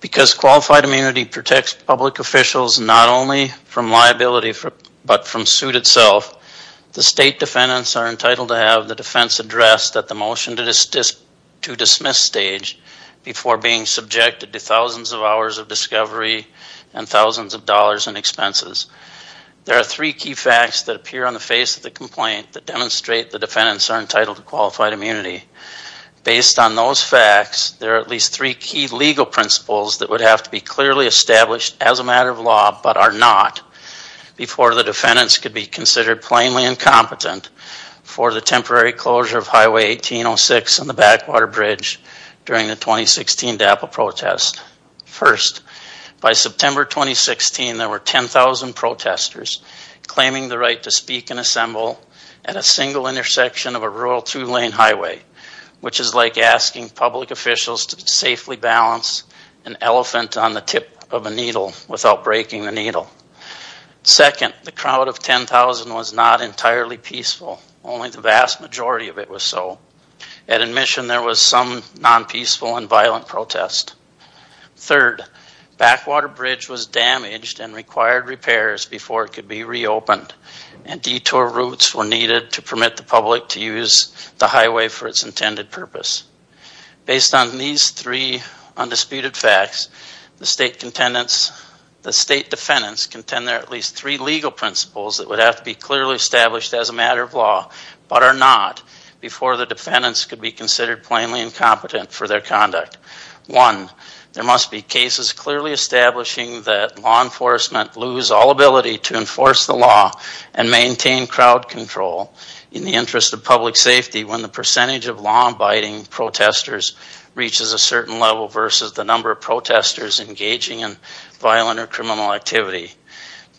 Because qualified immunity protects public officials not only from liability, but from suit itself The state defendants are entitled to have the defense addressed at the motion to dismiss stage Before being subjected to thousands of hours of discovery and thousands of dollars in expenses There are three key facts that appear on the face of the complaint that demonstrate the defendants are entitled to qualified immunity Based on those facts, there are at least three key legal principles that would have to be clearly established as a matter of law But are not Before the defendants could be considered plainly incompetent For the temporary closure of Highway 1806 on the Backwater Bridge during the 2016 DAPA protest First, by September 2016 there were 10,000 protesters Claiming the right to speak and assemble at a single intersection of a rural two-lane highway Which is like asking public officials to safely balance an elephant on the tip of a needle without breaking the needle Second, the crowd of 10,000 was not entirely peaceful, only the vast majority of it was so At admission there was some non-peaceful and violent protest Third, Backwater Bridge was damaged and required repairs before it could be reopened And detour routes were needed to permit the public to use the highway for its intended purpose Based on these three Undisputed facts, the state defendants contend there are at least three legal principles That would have to be clearly established as a matter of law But are not before the defendants could be considered plainly incompetent for their conduct One, there must be cases clearly establishing that law enforcement lose all ability to enforce the law And maintain crowd control in the interest of public safety when the percentage of law-abiding Protesters reaches a certain level versus the number of protesters engaging in violent or criminal activity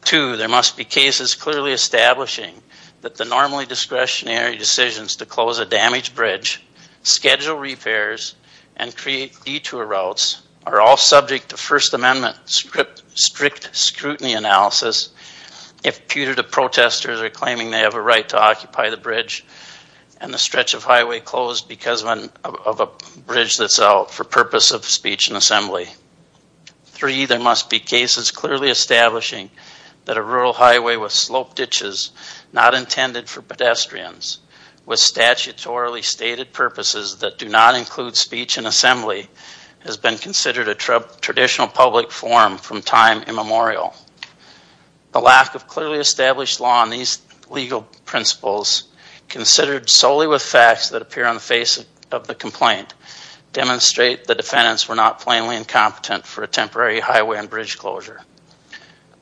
Two, there must be cases clearly establishing that the normally discretionary decisions to close a damaged bridge Schedule repairs and create detour routes are all subject to First Amendment strict scrutiny analysis If putative protesters are claiming they have a right to occupy the bridge and the stretch of highway closed because of a Bridge that's out for purpose of speech and assembly Three, there must be cases clearly establishing that a rural highway with sloped ditches not intended for pedestrians With statutorily stated purposes that do not include speech and assembly has been considered a traditional public forum from time immemorial The lack of clearly established law on these legal principles Considered solely with facts that appear on the face of the complaint Demonstrate the defendants were not plainly incompetent for a temporary highway and bridge closure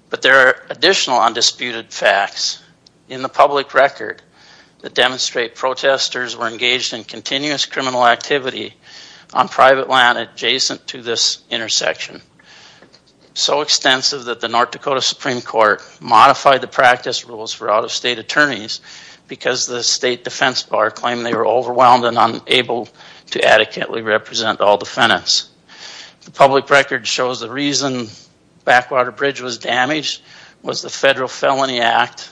But there are additional undisputed facts in the public record That demonstrate protesters were engaged in continuous criminal activity on private land adjacent to this intersection So extensive that the North Dakota Supreme Court modified the practice rules for out-of-state attorneys Because the state defense bar claimed they were overwhelmed and unable to adequately represent all defendants The public record shows the reason Backwater Bridge was damaged was the federal felony act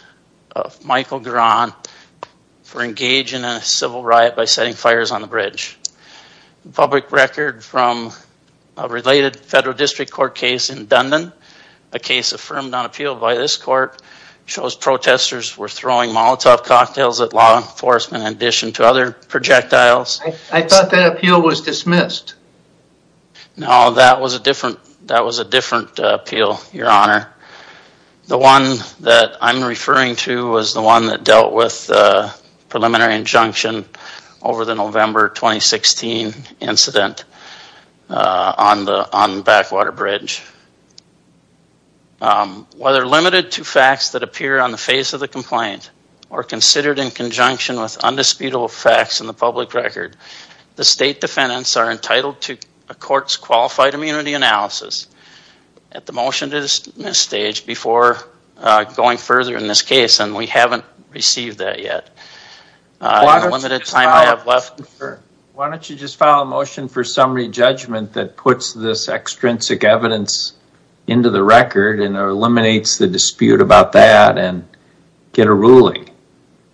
of Michael Garan For engaging in a civil riot by setting fires on the bridge public record from Related federal district court case in Dundon a case affirmed on appeal by this court Shows protesters were throwing Molotov cocktails at law enforcement in addition to other projectiles. I thought that appeal was dismissed No, that was a different. That was a different appeal your honor The one that I'm referring to was the one that dealt with preliminary injunction over the November 2016 incident on the on Backwater Bridge Whether limited to facts that appear on the face of the complaint or considered in conjunction with Undisputable facts in the public record the state defendants are entitled to a court's qualified immunity analysis at the motion to this stage before Going further in this case, and we haven't received that yet Limited time I have left Why don't you just file a motion for summary judgment that puts this extrinsic evidence? Into the record and eliminates the dispute about that and get a ruling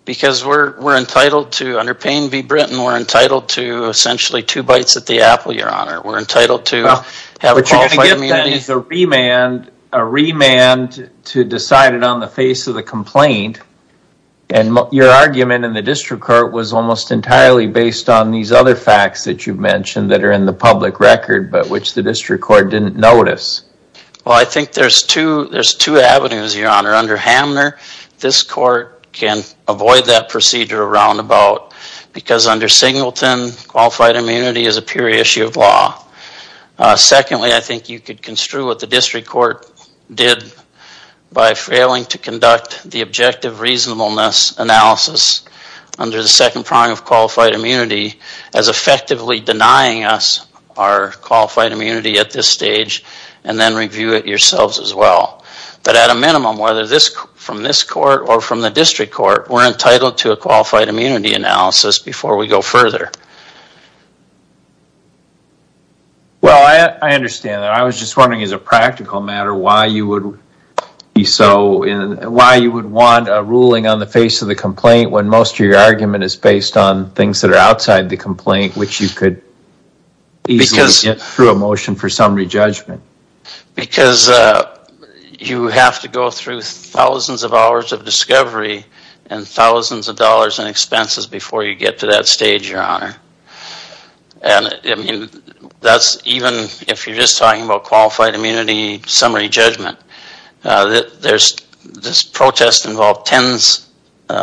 Because we're we're entitled to under Payne v. Brinton. We're entitled to essentially two bites at the apple your honor We're entitled to have a qualified immunity. But you're going to get a remand to decide it on the face of the complaint and Your argument in the district court was almost entirely based on these other facts that you've mentioned that are in the public record But which the district court didn't notice Well, I think there's two there's two avenues your honor under Hamner This court can avoid that procedure around about because under Singleton qualified immunity is a pure issue of law Secondly, I think you could construe what the district court did By failing to conduct the objective reasonableness analysis under the second prong of qualified immunity as Effectively denying us our qualified immunity at this stage and then review it yourselves as well But at a minimum whether this from this court or from the district court We're entitled to a qualified immunity analysis before we go further Well, I I understand that I was just wondering as a practical matter why you would be so in why you would want a ruling on the face of the complaint when most of your argument is based on things that are outside the complaint which you could Because it's through a motion for some rejudgment because You have to go through thousands of hours of discovery and thousands of dollars in expenses before you get to that stage your honor And I mean that's even if you're just talking about qualified immunity summary judgment There's this protest involved tens You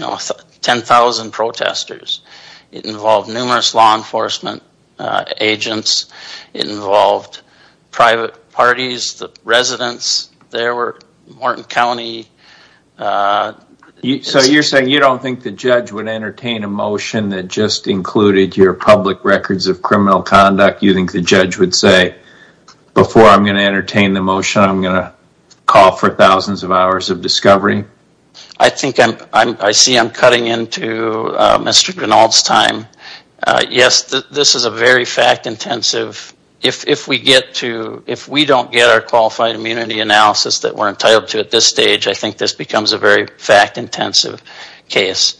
know ten thousand protesters it involved numerous law enforcement Agents it involved private parties the residents there were Morton County You so you're saying you don't think the judge would entertain a motion that just Included your public records of criminal conduct. You think the judge would say Before I'm going to entertain the motion. I'm gonna call for thousands of hours of discovery. I think I'm I see I'm cutting into Mr. Grinald's time Yes, this is a very fact-intensive If we get to if we don't get our qualified immunity analysis that we're entitled to at this stage I think this becomes a very fact-intensive Case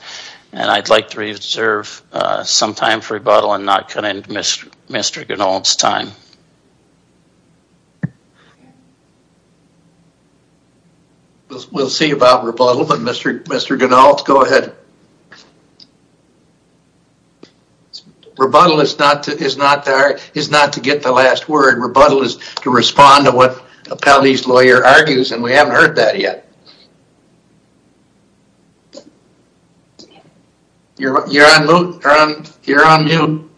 and I'd like to reserve Some time for rebuttal and not cut into Mr. Grinald's time We'll see about rebuttal but Mr. Mr. Grinald go ahead Rebuttal is not to is not there is not to get the last word rebuttal is to respond to what Appellee's lawyer argues and we haven't heard that yet You're on mute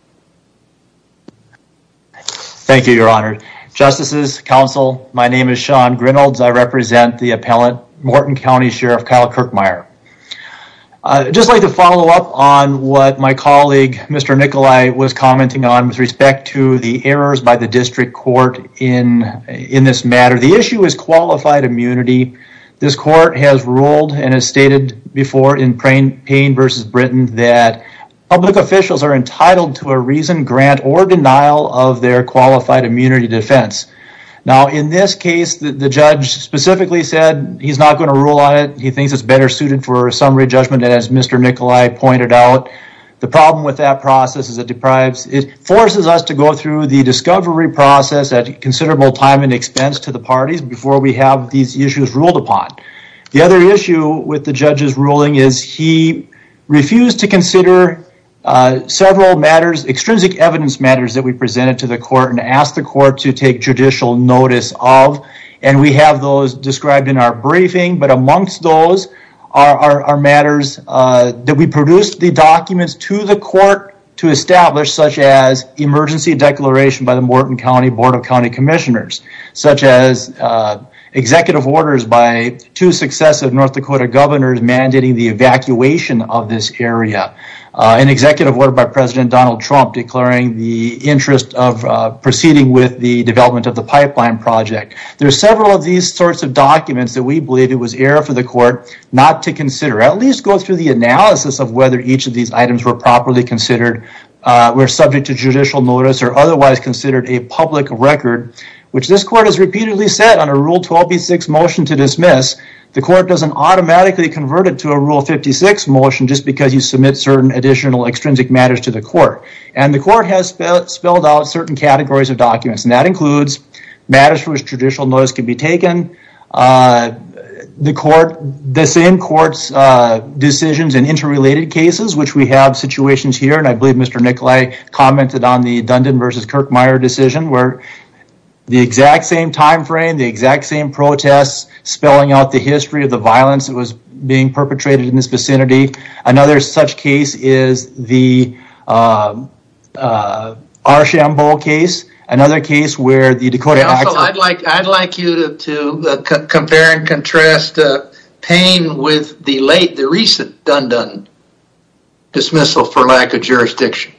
Thank you your honor justices counsel, my name is Sean Grinald's I represent the appellant Morton County Sheriff Kyle Kirkmeyer Just like to follow up on what my colleague. Mr Nikolai was commenting on with respect to the errors by the district court in In this matter. The issue is qualified immunity this court has ruled and has stated before in praying pain versus Britain that Public officials are entitled to a reason grant or denial of their qualified immunity defense Now in this case the judge specifically said he's not going to rule on it. He thinks it's better suited for a summary judgment As mr. Nikolai pointed out the problem with that process is it deprives it forces us to go through the discovery process at Considerable time and expense to the parties before we have these issues ruled upon the other issue with the judge's ruling is he refused to consider several matters extrinsic evidence matters that we presented to the court and asked the court to take judicial notice of and We have those described in our briefing but amongst those are our matters that we produced the documents to the court to establish such as emergency declaration by the Morton County Board of County Commissioners such as executive orders by two successive North Dakota governor's mandating the evacuation of this area an executive order by President Donald Trump declaring the interest of proceeding with the development of the pipeline project There are several of these sorts of documents that we believe it was error for the court not to consider at least go through the Analysis of whether each of these items were properly considered We're subject to judicial notice or otherwise considered a public record Which this court has repeatedly said on a rule 12b 6 motion to dismiss The court doesn't automatically convert it to a rule 56 motion just because you submit certain additional Extrinsic matters to the court and the court has spelled out certain categories of documents and that includes Matters for which judicial notice can be taken The court the same courts Decisions and interrelated cases which we have situations here and I believe mr Nikolai commented on the Dundon versus Kirkmeyer decision where The exact same time frame the exact same protests spelling out the history of the violence It was being perpetrated in this vicinity. Another such case is the Our sham bowl case another case where the Dakota I'd like I'd like you to compare and contrast pain with the late the recent Dundon dismissal for lack of jurisdiction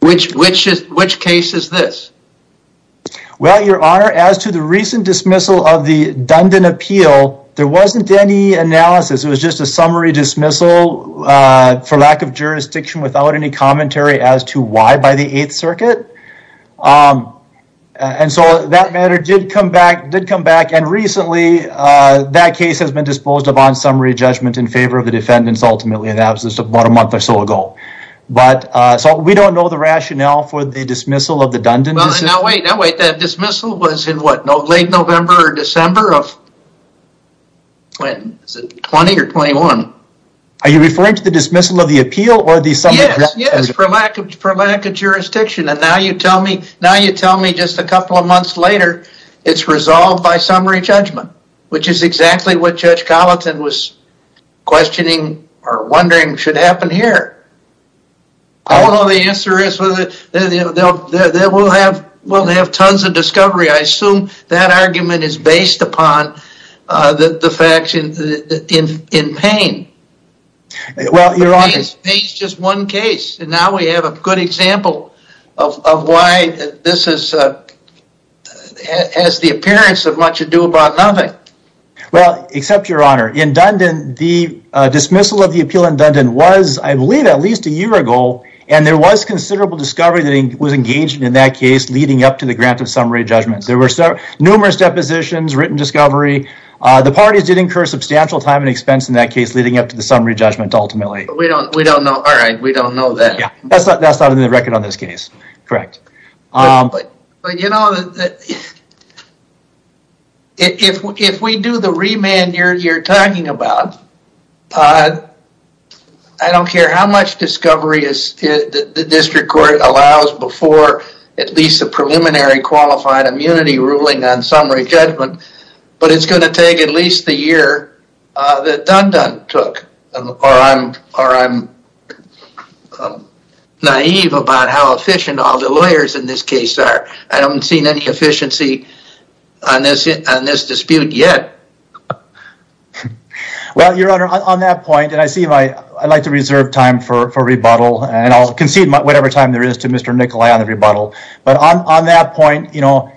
Which which is which case is this? Well your honor as to the recent dismissal of the Dundon appeal there wasn't any analysis. It was just a summary dismissal For lack of jurisdiction without any commentary as to why by the 8th circuit And so that matter did come back did come back and recently That case has been disposed of on summary judgment in favor of the defendants ultimately an absence of about a month or so ago But so we don't know the rationale for the dismissal of the Dundon No, wait, no, wait that dismissal was in what no late November or December of When is it 20 or 21 Are you referring to the dismissal of the appeal or the summit? Yes, yes for lack of for lack of jurisdiction and now you tell me now you tell me just a couple of months later It's resolved by summary judgment, which is exactly what judge Colleton was questioning or wondering should happen here I Don't know the answer is with it. They will have will have tons of discovery I assume that argument is based upon that the faction in in pain Well, you're honest. He's just one case and now we have a good example of why this is Has the appearance of much ado about nothing well, except your honor in Dundon the Dismissal of the appeal in Dundon was I believe at least a year ago and there was considerable discovery that he was engaged in That case leading up to the grant of summary judgments There were so numerous depositions written discovery The parties did incur substantial time and expense in that case leading up to the summary judgment. Ultimately, we don't we don't know All right, we don't know that. Yeah, that's not that's not in the record on this case, correct? but you know If we do the remand you're talking about I Don't care how much discovery is the district court allows before at least a preliminary Qualified immunity ruling on summary judgment, but it's going to take at least the year that Dundon took or I'm or I'm Naive about how efficient all the lawyers in this case are I haven't seen any efficiency on this on this dispute yet Well, your honor on that point and I see my I'd like to reserve time for for rebuttal and I'll concede my whatever time there Is to mr. Nikolai on the rebuttal but on that point, you know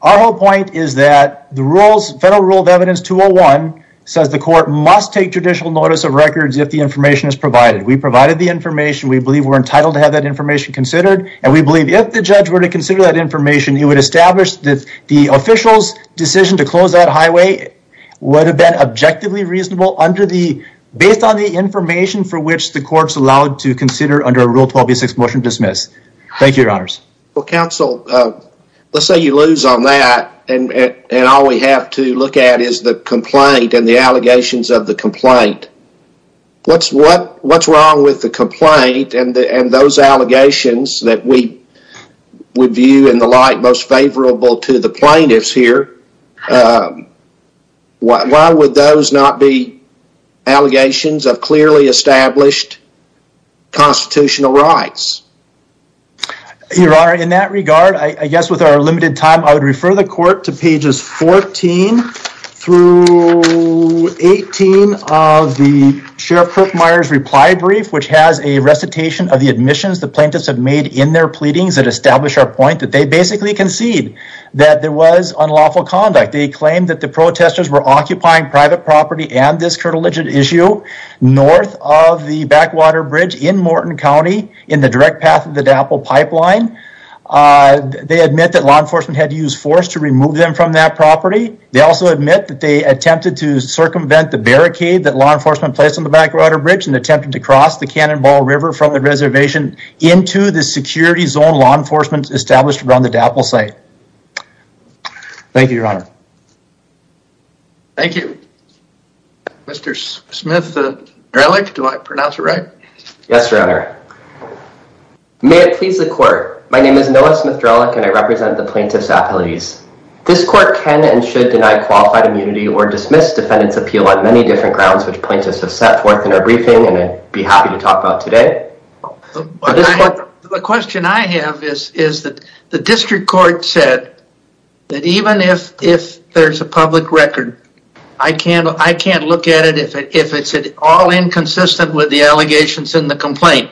Our whole point is that the rules federal rule of evidence 201 says the court must take judicial notice of records if the information is provided we provided the information We believe we're entitled to have that information considered and we believe if the judge were to consider that information He would establish that the officials decision to close that highway would have been objectively reasonable under the Based on the information for which the courts allowed to consider under a rule 12 b6 motion dismiss. Thank you your honors. Well counsel Let's say you lose on that and and all we have to look at is the complaint and the allegations of the complaint What's what what's wrong with the complaint and and those allegations that we? Would view in the light most favorable to the plaintiffs here What why would those not be allegations of clearly established Constitutional rights You are in that regard. I guess with our limited time. I would refer the court to pages 14 through 18 of the sheriff Kirkmeyer's reply brief Which has a recitation of the admissions the plaintiffs have made in their pleadings that establish our point that they basically concede That there was unlawful conduct. They claimed that the protesters were occupying private property and this current legit issue North of the backwater bridge in Morton County in the direct path of the DAPL pipeline They admit that law enforcement had to use force to remove them from that property They also admit that they attempted to circumvent the barricade that law enforcement placed on the backwater bridge and attempted to cross the Cannonball River from the reservation into the security zone law enforcement established around the DAPL site Thank you, your honor Thank you Mr. Smith Do I pronounce it, right? Yes, your honor May it please the court. My name is Noah Smith Drelic and I represent the plaintiffs appellate ease This court can and should deny qualified immunity or dismiss defendants appeal on many different grounds Which plaintiffs have set forth in our briefing and I'd be happy to talk about today The question I have is is that the district court said That even if if there's a public record I can't I can't look at it if it's it all inconsistent with the allegations in the complaint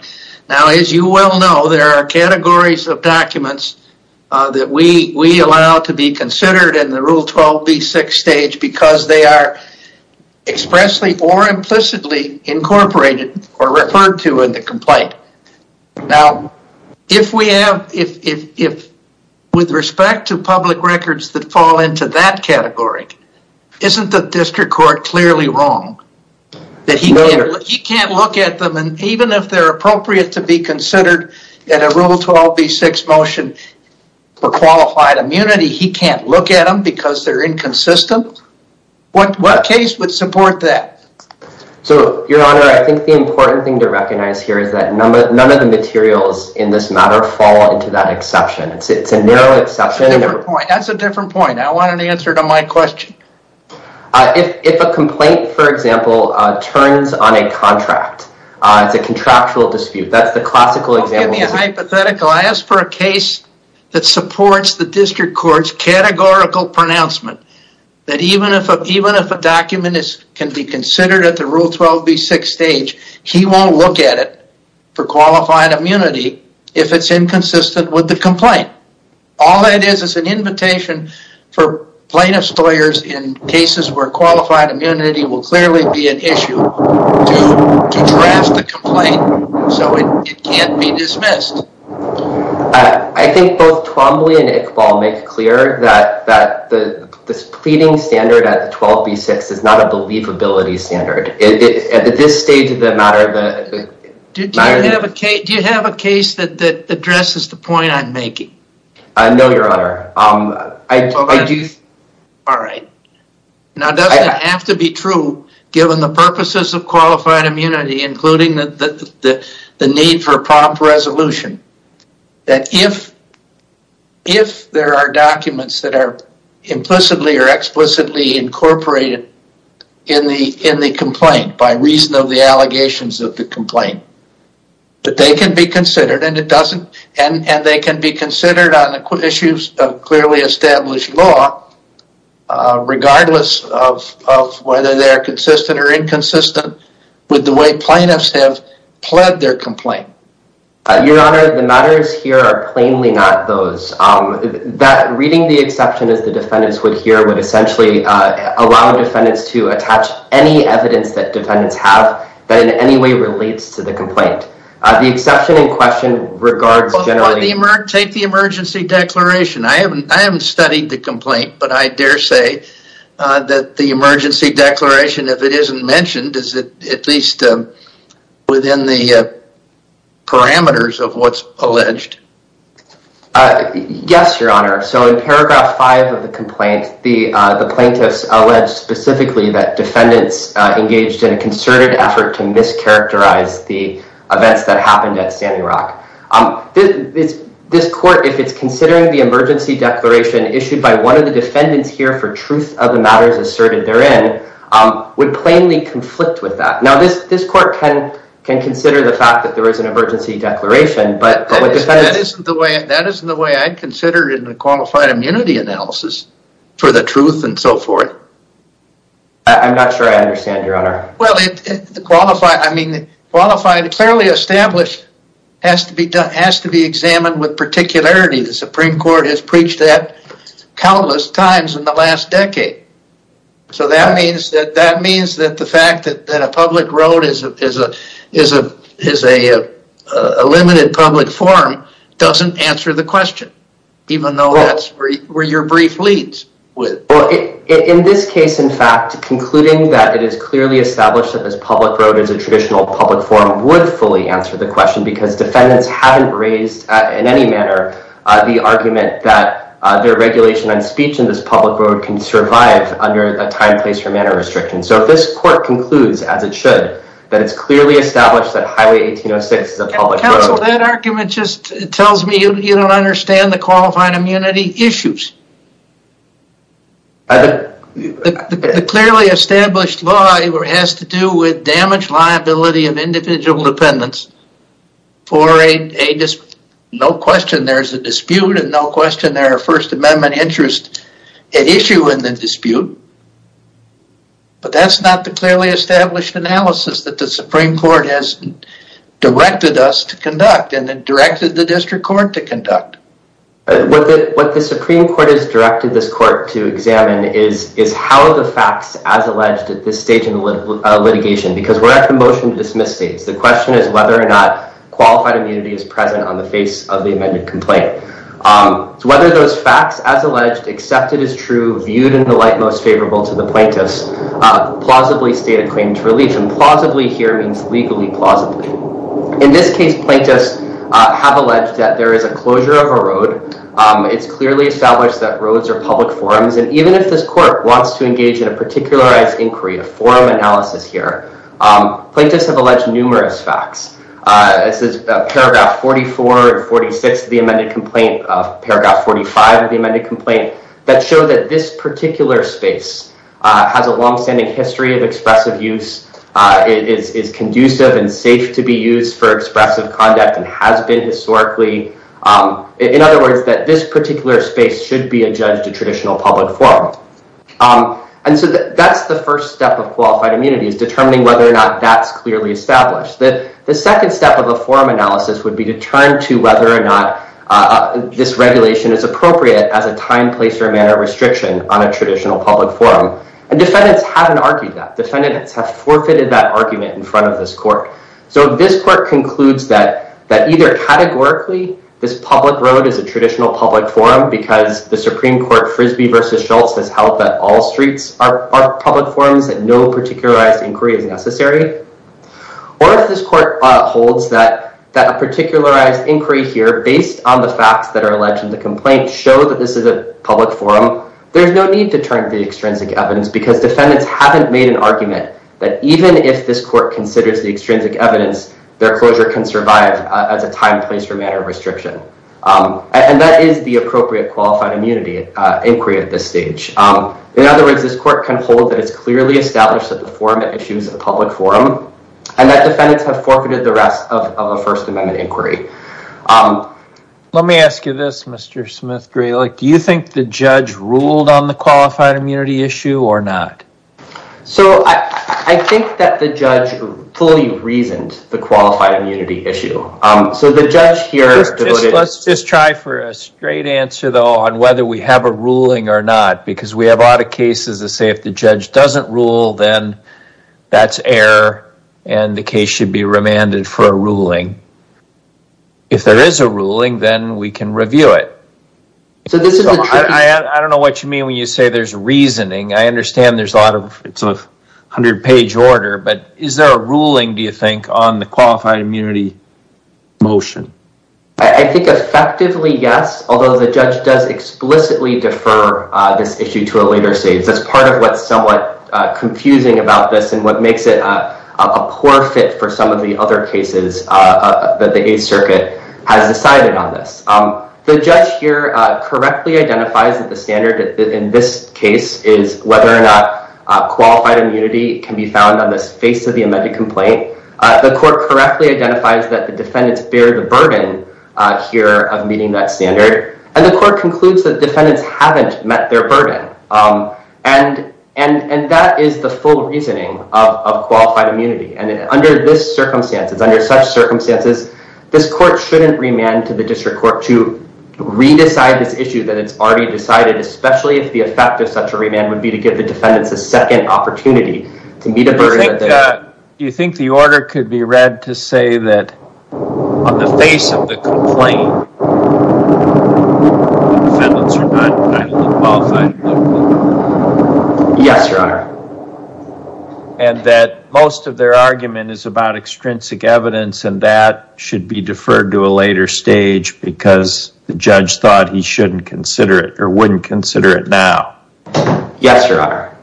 Now as you well know, there are categories of documents That we we allow to be considered in the rule 12b6 stage because they are expressly or implicitly Incorporated or referred to in the complaint Now if we have if with respect to public records that fall into that category Isn't the district court clearly wrong? That he can't look at them and even if they're appropriate to be considered at a rule 12b6 motion For qualified immunity. He can't look at them because they're inconsistent What what case would support that? So your honor, I think the important thing to recognize here is that number none of the materials in this matter fall into that exception It's it's a narrow exception. That's a different point. I want an answer to my question If if a complaint for example turns on a contract, it's a contractual dispute. That's the classical example Hypothetically, I ask for a case that supports the district courts Categorical pronouncement that even if even if a document is can be considered at the rule 12b6 stage He won't look at it for qualified immunity if it's inconsistent with the complaint All that is is an invitation for plaintiff's lawyers in cases where qualified immunity will clearly be an issue To draft the complaint so it can't be dismissed I think both Twombly and Iqbal make clear that that the Pleading standard at the 12b6 is not a believability standard. At this stage of the matter Do you have a case that that addresses the point I'm making? No, your honor. Um, I do All right Now does it have to be true given the purposes of qualified immunity including that the the need for a prompt resolution that if if there are documents that are implicitly or explicitly Incorporated in the in the complaint by reason of the allegations of the complaint But they can be considered and it doesn't and and they can be considered on the issues of clearly established law Regardless of whether they are consistent or inconsistent with the way plaintiffs have pled their complaint Your honor the matters here are plainly not those that reading the exception as the defendants would hear would essentially Allow defendants to attach any evidence that defendants have that in any way relates to the complaint The exception in question regards generally take the emergency declaration I haven't I haven't studied the complaint, but I dare say that the emergency declaration if it isn't mentioned is that at least within the Parameters of what's alleged Yes, your honor so in paragraph five of the complaint the the plaintiffs alleged specifically that defendants engaged in a concerted effort To mischaracterize the events that happened at Standing Rock It's this court if it's considering the emergency declaration issued by one of the defendants here for truth of the matters asserted therein Would plainly conflict with that now this this court can can consider the fact that there is an emergency declaration But that isn't the way that isn't the way I'd consider in the qualified immunity analysis for the truth and so forth I'm not sure. I understand your honor. Well, it's the qualified. I mean the qualified clearly established Has to be done has to be examined with particularity. The Supreme Court has preached that countless times in the last decade so that means that that means that the fact that that a public road is a is a is a Limited public forum doesn't answer the question Even though that's where your brief leads with in this case Concluding that it is clearly established that this public road is a traditional public forum would fully answer the question because defendants haven't raised in any manner The argument that their regulation on speech in this public road can survive under a time place for manner restriction So if this court concludes as it should that it's clearly established that highway 1806 is a public road. Counsel, that argument just tells me you don't understand the qualifying immunity issues The Clearly established law has to do with damage liability of individual dependents for a No question. There's a dispute and no question there are first amendment interest issue in the dispute But that's not the clearly established analysis that the Supreme Court has Directed us to conduct and then directed the district court to conduct With it what the Supreme Court has directed this court to examine is is how the facts as alleged at this stage in litigation because we're at the motion to dismiss states The question is whether or not qualified immunity is present on the face of the amended complaint So whether those facts as alleged except it is true viewed in the light most favorable to the plaintiffs Plausibly state a claim to relief and plausibly here means legally plausibly in this case plaintiffs Have alleged that there is a closure of a road It's clearly established that roads are public forums And even if this court wants to engage in a particularized inquiry a forum analysis here Plaintiffs have alleged numerous facts This is paragraph 44 or 46 of the amended complaint of paragraph 45 of the amended complaint that show that this particular space Has a long-standing history of expressive use It is conducive and safe to be used for expressive conduct and has been historically In other words that this particular space should be a judge to traditional public forum And so that's the first step of qualified immunity is determining whether or not that's clearly established that the second step of a forum Analysis would be to turn to whether or not This regulation is appropriate as a time place or manner restriction on a traditional public forum and defendants haven't argued that Defendants have forfeited that argument in front of this court so this court concludes that that either Categorically this public road is a traditional public forum because the Supreme Court Frisbee vs Schultz has held that all streets are public forums that no particularized inquiry is necessary Or if this court holds that that a particularized inquiry here based on the facts that are alleged in the complaint show that this is a Argument that even if this court considers the extrinsic evidence their closure can survive as a time place for manner restriction And that is the appropriate qualified immunity Inquiry at this stage. In other words, this court can hold that It's clearly established that the forum issues a public forum and that defendants have forfeited the rest of a First Amendment inquiry Let me ask you this. Mr. Smith gray like do you think the judge ruled on the qualified immunity issue or not? So I think that the judge fully reasoned the qualified immunity issue So the judge here Let's just try for a straight answer though on whether we have a ruling or not Because we have a lot of cases to say if the judge doesn't rule then That's error and the case should be remanded for a ruling If there is a ruling then we can review it So this is I don't know what you mean when you say there's reasoning I understand there's a lot of it's a hundred page order, but is there a ruling do you think on the qualified immunity? Motion, I think effectively. Yes, although the judge does explicitly defer this issue to a later stage That's part of what's somewhat Confusing about this and what makes it a poor fit for some of the other cases That the 8th Circuit has decided on this The judge here correctly identifies that the standard in this case is whether or not Qualified immunity can be found on this face of the amended complaint the court correctly identifies that the defendants bear the burden Here of meeting that standard and the court concludes that defendants haven't met their burden And and and that is the full reasoning of qualified immunity and under this circumstance It's under such circumstances This court shouldn't remand to the district court to Redecide this issue that it's already decided Especially if the effect of such a remand would be to give the defendants a second opportunity to meet a burden Do you think the order could be read to say that on the face of the complaint? Yes, your honor and That should be deferred to a later stage because the judge thought he shouldn't consider it or wouldn't consider it now Yes, your honor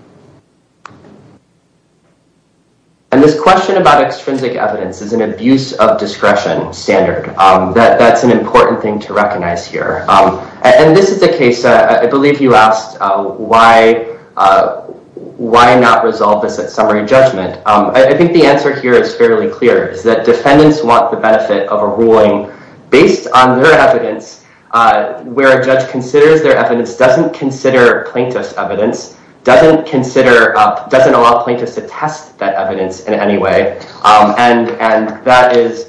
And This question about extrinsic evidence is an abuse of discretion standard that that's an important thing to recognize here And this is the case. I believe you asked why? Why not resolve this at summary judgment I think the answer here is fairly clear is that defendants want the benefit of a ruling based on their evidence Where a judge considers their evidence doesn't consider plaintiffs evidence doesn't consider Doesn't allow plaintiffs to test that evidence in any way and and that is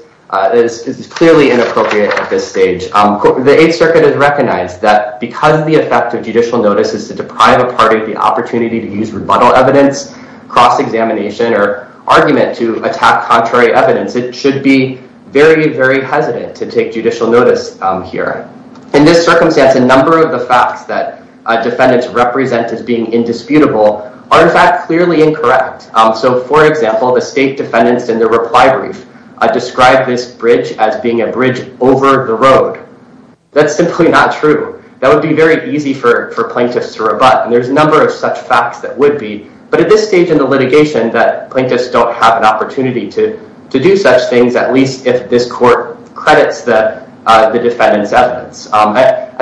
Clearly inappropriate at this stage The Eighth Circuit has recognized that because the effect of judicial notice is to deprive a party of the opportunity to use rebuttal evidence cross-examination or Argument to attack contrary evidence. It should be very very hesitant to take judicial notice here in this circumstance A number of the facts that defendants represent as being indisputable Artifact clearly incorrect. So for example, the state defendants in the reply brief Described this bridge as being a bridge over the road That's simply not true That would be very easy for for plaintiffs to rebut and there's a number of such facts that would be but at this stage in The litigation that plaintiffs don't have an opportunity to to do such things at least if this court credits that The defendants evidence and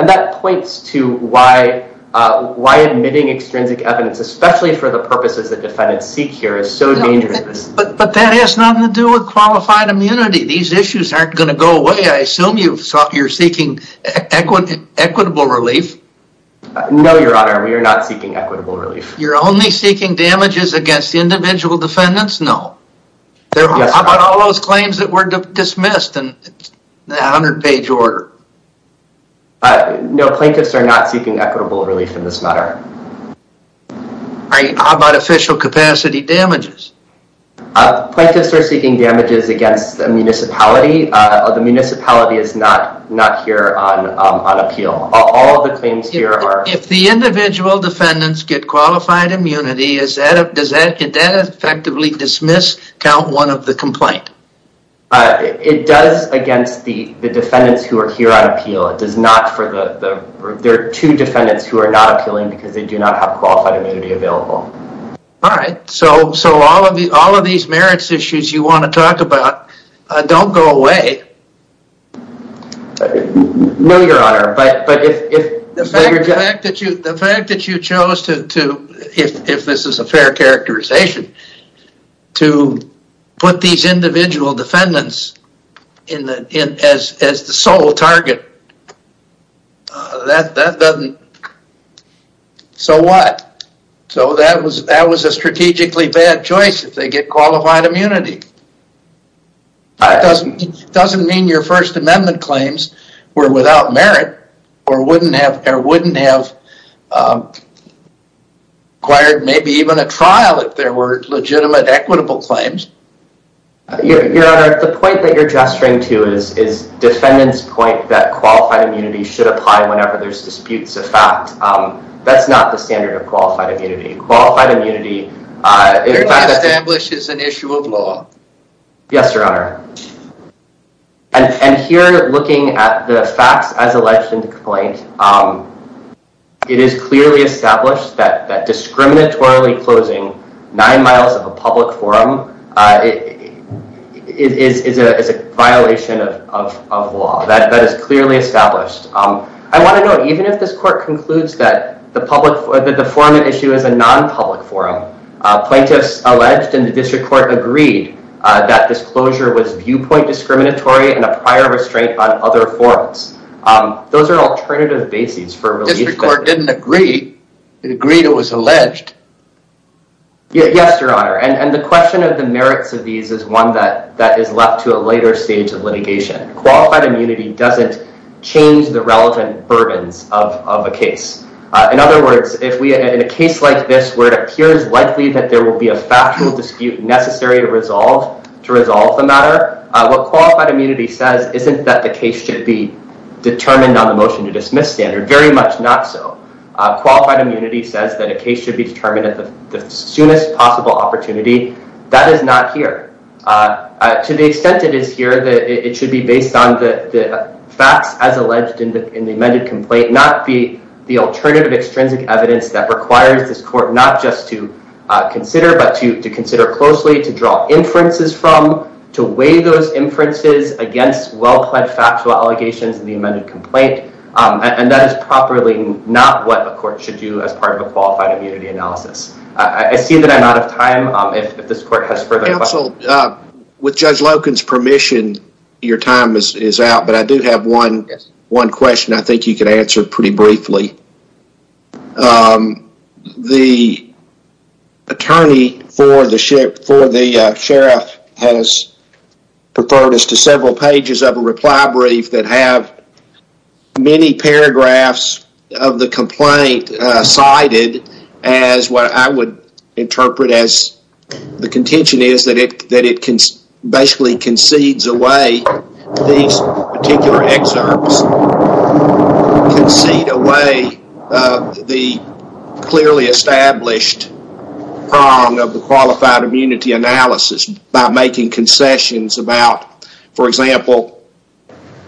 that points to why? Why admitting extrinsic evidence especially for the purposes that defendants seek here is so dangerous But that has nothing to do with qualified immunity these issues aren't going to go away I assume you thought you're seeking equity equitable relief No, your honor. We are not seeking equitable relief. You're only seeking damages against the individual defendants. No There are all those claims that were dismissed and the hundred-page order No plaintiffs are not seeking equitable relief in this matter I bought official capacity damages Plaintiffs are seeking damages against the municipality of the municipality is not not here on Appeal all the things here are if the individual defendants get qualified immunity Is that a does that get that effectively dismiss count one of the complaint? It does against the the defendants who are here on appeal It does not for the there are two defendants who are not appealing because they do not have qualified immunity available All right. So so all of the all of these merits issues you want to talk about Don't go away No, your honor, but The fact that you chose to if this is a fair characterization to Put these individual defendants in the in as as the sole target That that doesn't So what so that was that was a strategically bad choice if they get qualified immunity That doesn't doesn't mean your First Amendment claims were without merit or wouldn't have there wouldn't have Acquired maybe even a trial if there were legitimate equitable claims You're at the point that you're gesturing to is is Defendants point that qualified immunity should apply whenever there's disputes of fact That's not the standard of qualified immunity qualified immunity Establishes an issue of law. Yes, your honor and Here looking at the facts as alleged in the complaint It is clearly established that that discriminatorily closing nine miles of a public forum it Is a violation of law that that is clearly established Um, I want to know even if this court concludes that the public for the deformity issue is a non-public forum Plaintiffs alleged and the district court agreed that disclosure was viewpoint discriminatory and a prior restraint on other forms Those are alternative bases for religious record didn't agree Agreed it was alleged Yeah, yes, your honor and and the question of the merits of these is one that that is left to a later stage of litigation Qualified immunity doesn't change the relevant burdens of a case In other words if we in a case like this where it appears likely that there will be a factual dispute Necessary to resolve to resolve the matter what qualified immunity says isn't that the case should be Determined on the motion to dismiss standard very much. Not so Qualified immunity says that a case should be determined at the soonest possible opportunity. That is not here to the extent it is here that it should be based on the facts as alleged in the in the amended complaint not be the alternative extrinsic evidence that requires this court not just to Consider but to consider closely to draw inferences from to weigh those inferences Against well-pledged factual allegations in the amended complaint And that is properly not what the court should do as part of a qualified immunity analysis I see that I'm out of time if this court has further questions. Counsel, with Judge Loken's permission Your time is out, but I do have one one question. I think you could answer pretty briefly The attorney for the sheriff for the sheriff has Referred us to several pages of a reply brief that have many paragraphs of the complaint cited as what I would interpret as The contention is that it that it can basically concedes away these particular excerpts Concede away the clearly established Wrong of the qualified immunity analysis by making concessions about for example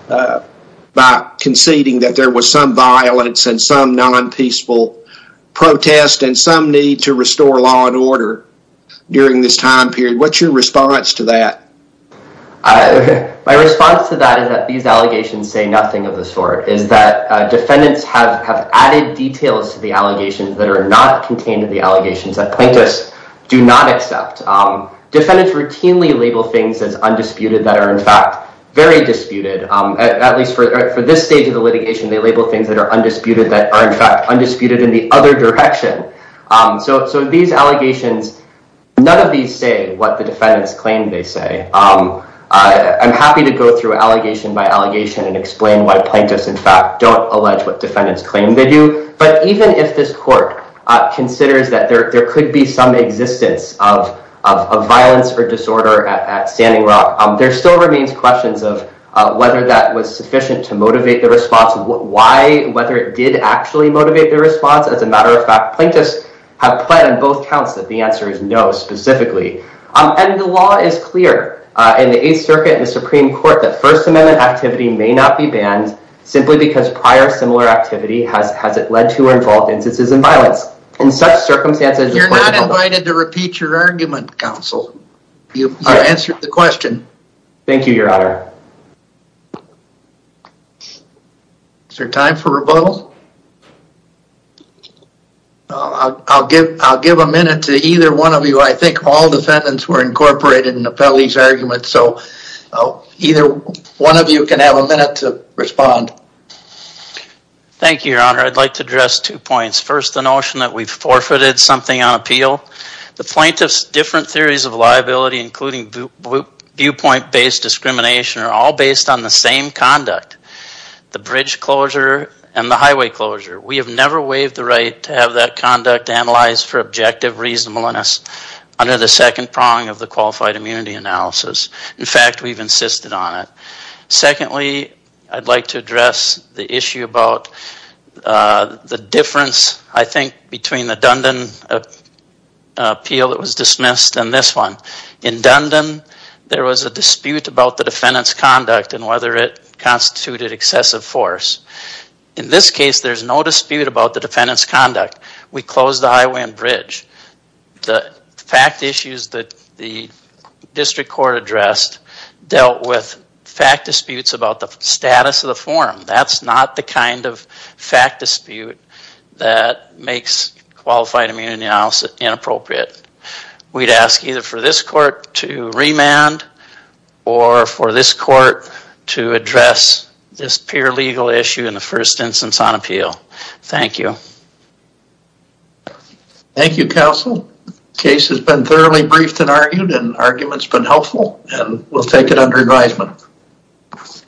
By conceding that there was some violence and some non-peaceful Protest and some need to restore law and order During this time period what's your response to that? My response to that is that these allegations say nothing of the sort is that Defendants have added details to the allegations that are not contained in the allegations that plaintiffs do not accept Defendants routinely label things as undisputed that are in fact very disputed at least for this stage of the litigation They label things that are undisputed that are in fact undisputed in the other direction So these allegations None of these say what the defendants claim they say I'm happy to go through allegation by allegation and explain why plaintiffs in fact don't allege what defendants claim they do but even if this court considers that there could be some existence of violence or disorder at Standing Rock There still remains questions of whether that was sufficient to motivate the response Why whether it did actually motivate the response as a matter of fact plaintiffs have pled on both counts that the answer is no Specifically and the law is clear in the Eighth Circuit and the Supreme Court that First Amendment activity may not be banned Simply because prior similar activity has has it led to or involved instances and violence in such circumstances You're not invited to repeat your argument counsel. You answered the question. Thank you your honor Is there time for rebuttal I'll give I'll give a minute to either one of you. I think all defendants were incorporated in the appellee's argument. So Either one of you can have a minute to respond Thank you, your honor. I'd like to address two points first the notion that we've forfeited something on appeal the plaintiffs different theories of liability including Viewpoint based discrimination are all based on the same conduct The bridge closure and the highway closure We have never waived the right to have that conduct analyzed for objective reasonableness Under the second prong of the qualified immunity analysis. In fact, we've insisted on it Secondly, I'd like to address the issue about The difference I think between the Dundon Appeal that was dismissed and this one in Dundon There was a dispute about the defendants conduct and whether it constituted excessive force in this case There's no dispute about the defendants conduct. We closed the highway and bridge the fact issues that the District Court addressed dealt with fact disputes about the status of the forum That's not the kind of fact dispute that makes qualified immunity analysis inappropriate We'd ask either for this court to remand or For this court to address this pure legal issue in the first instance on appeal. Thank you Thank you counsel case has been thoroughly briefed and argued and arguments been helpful and we'll take it under advisement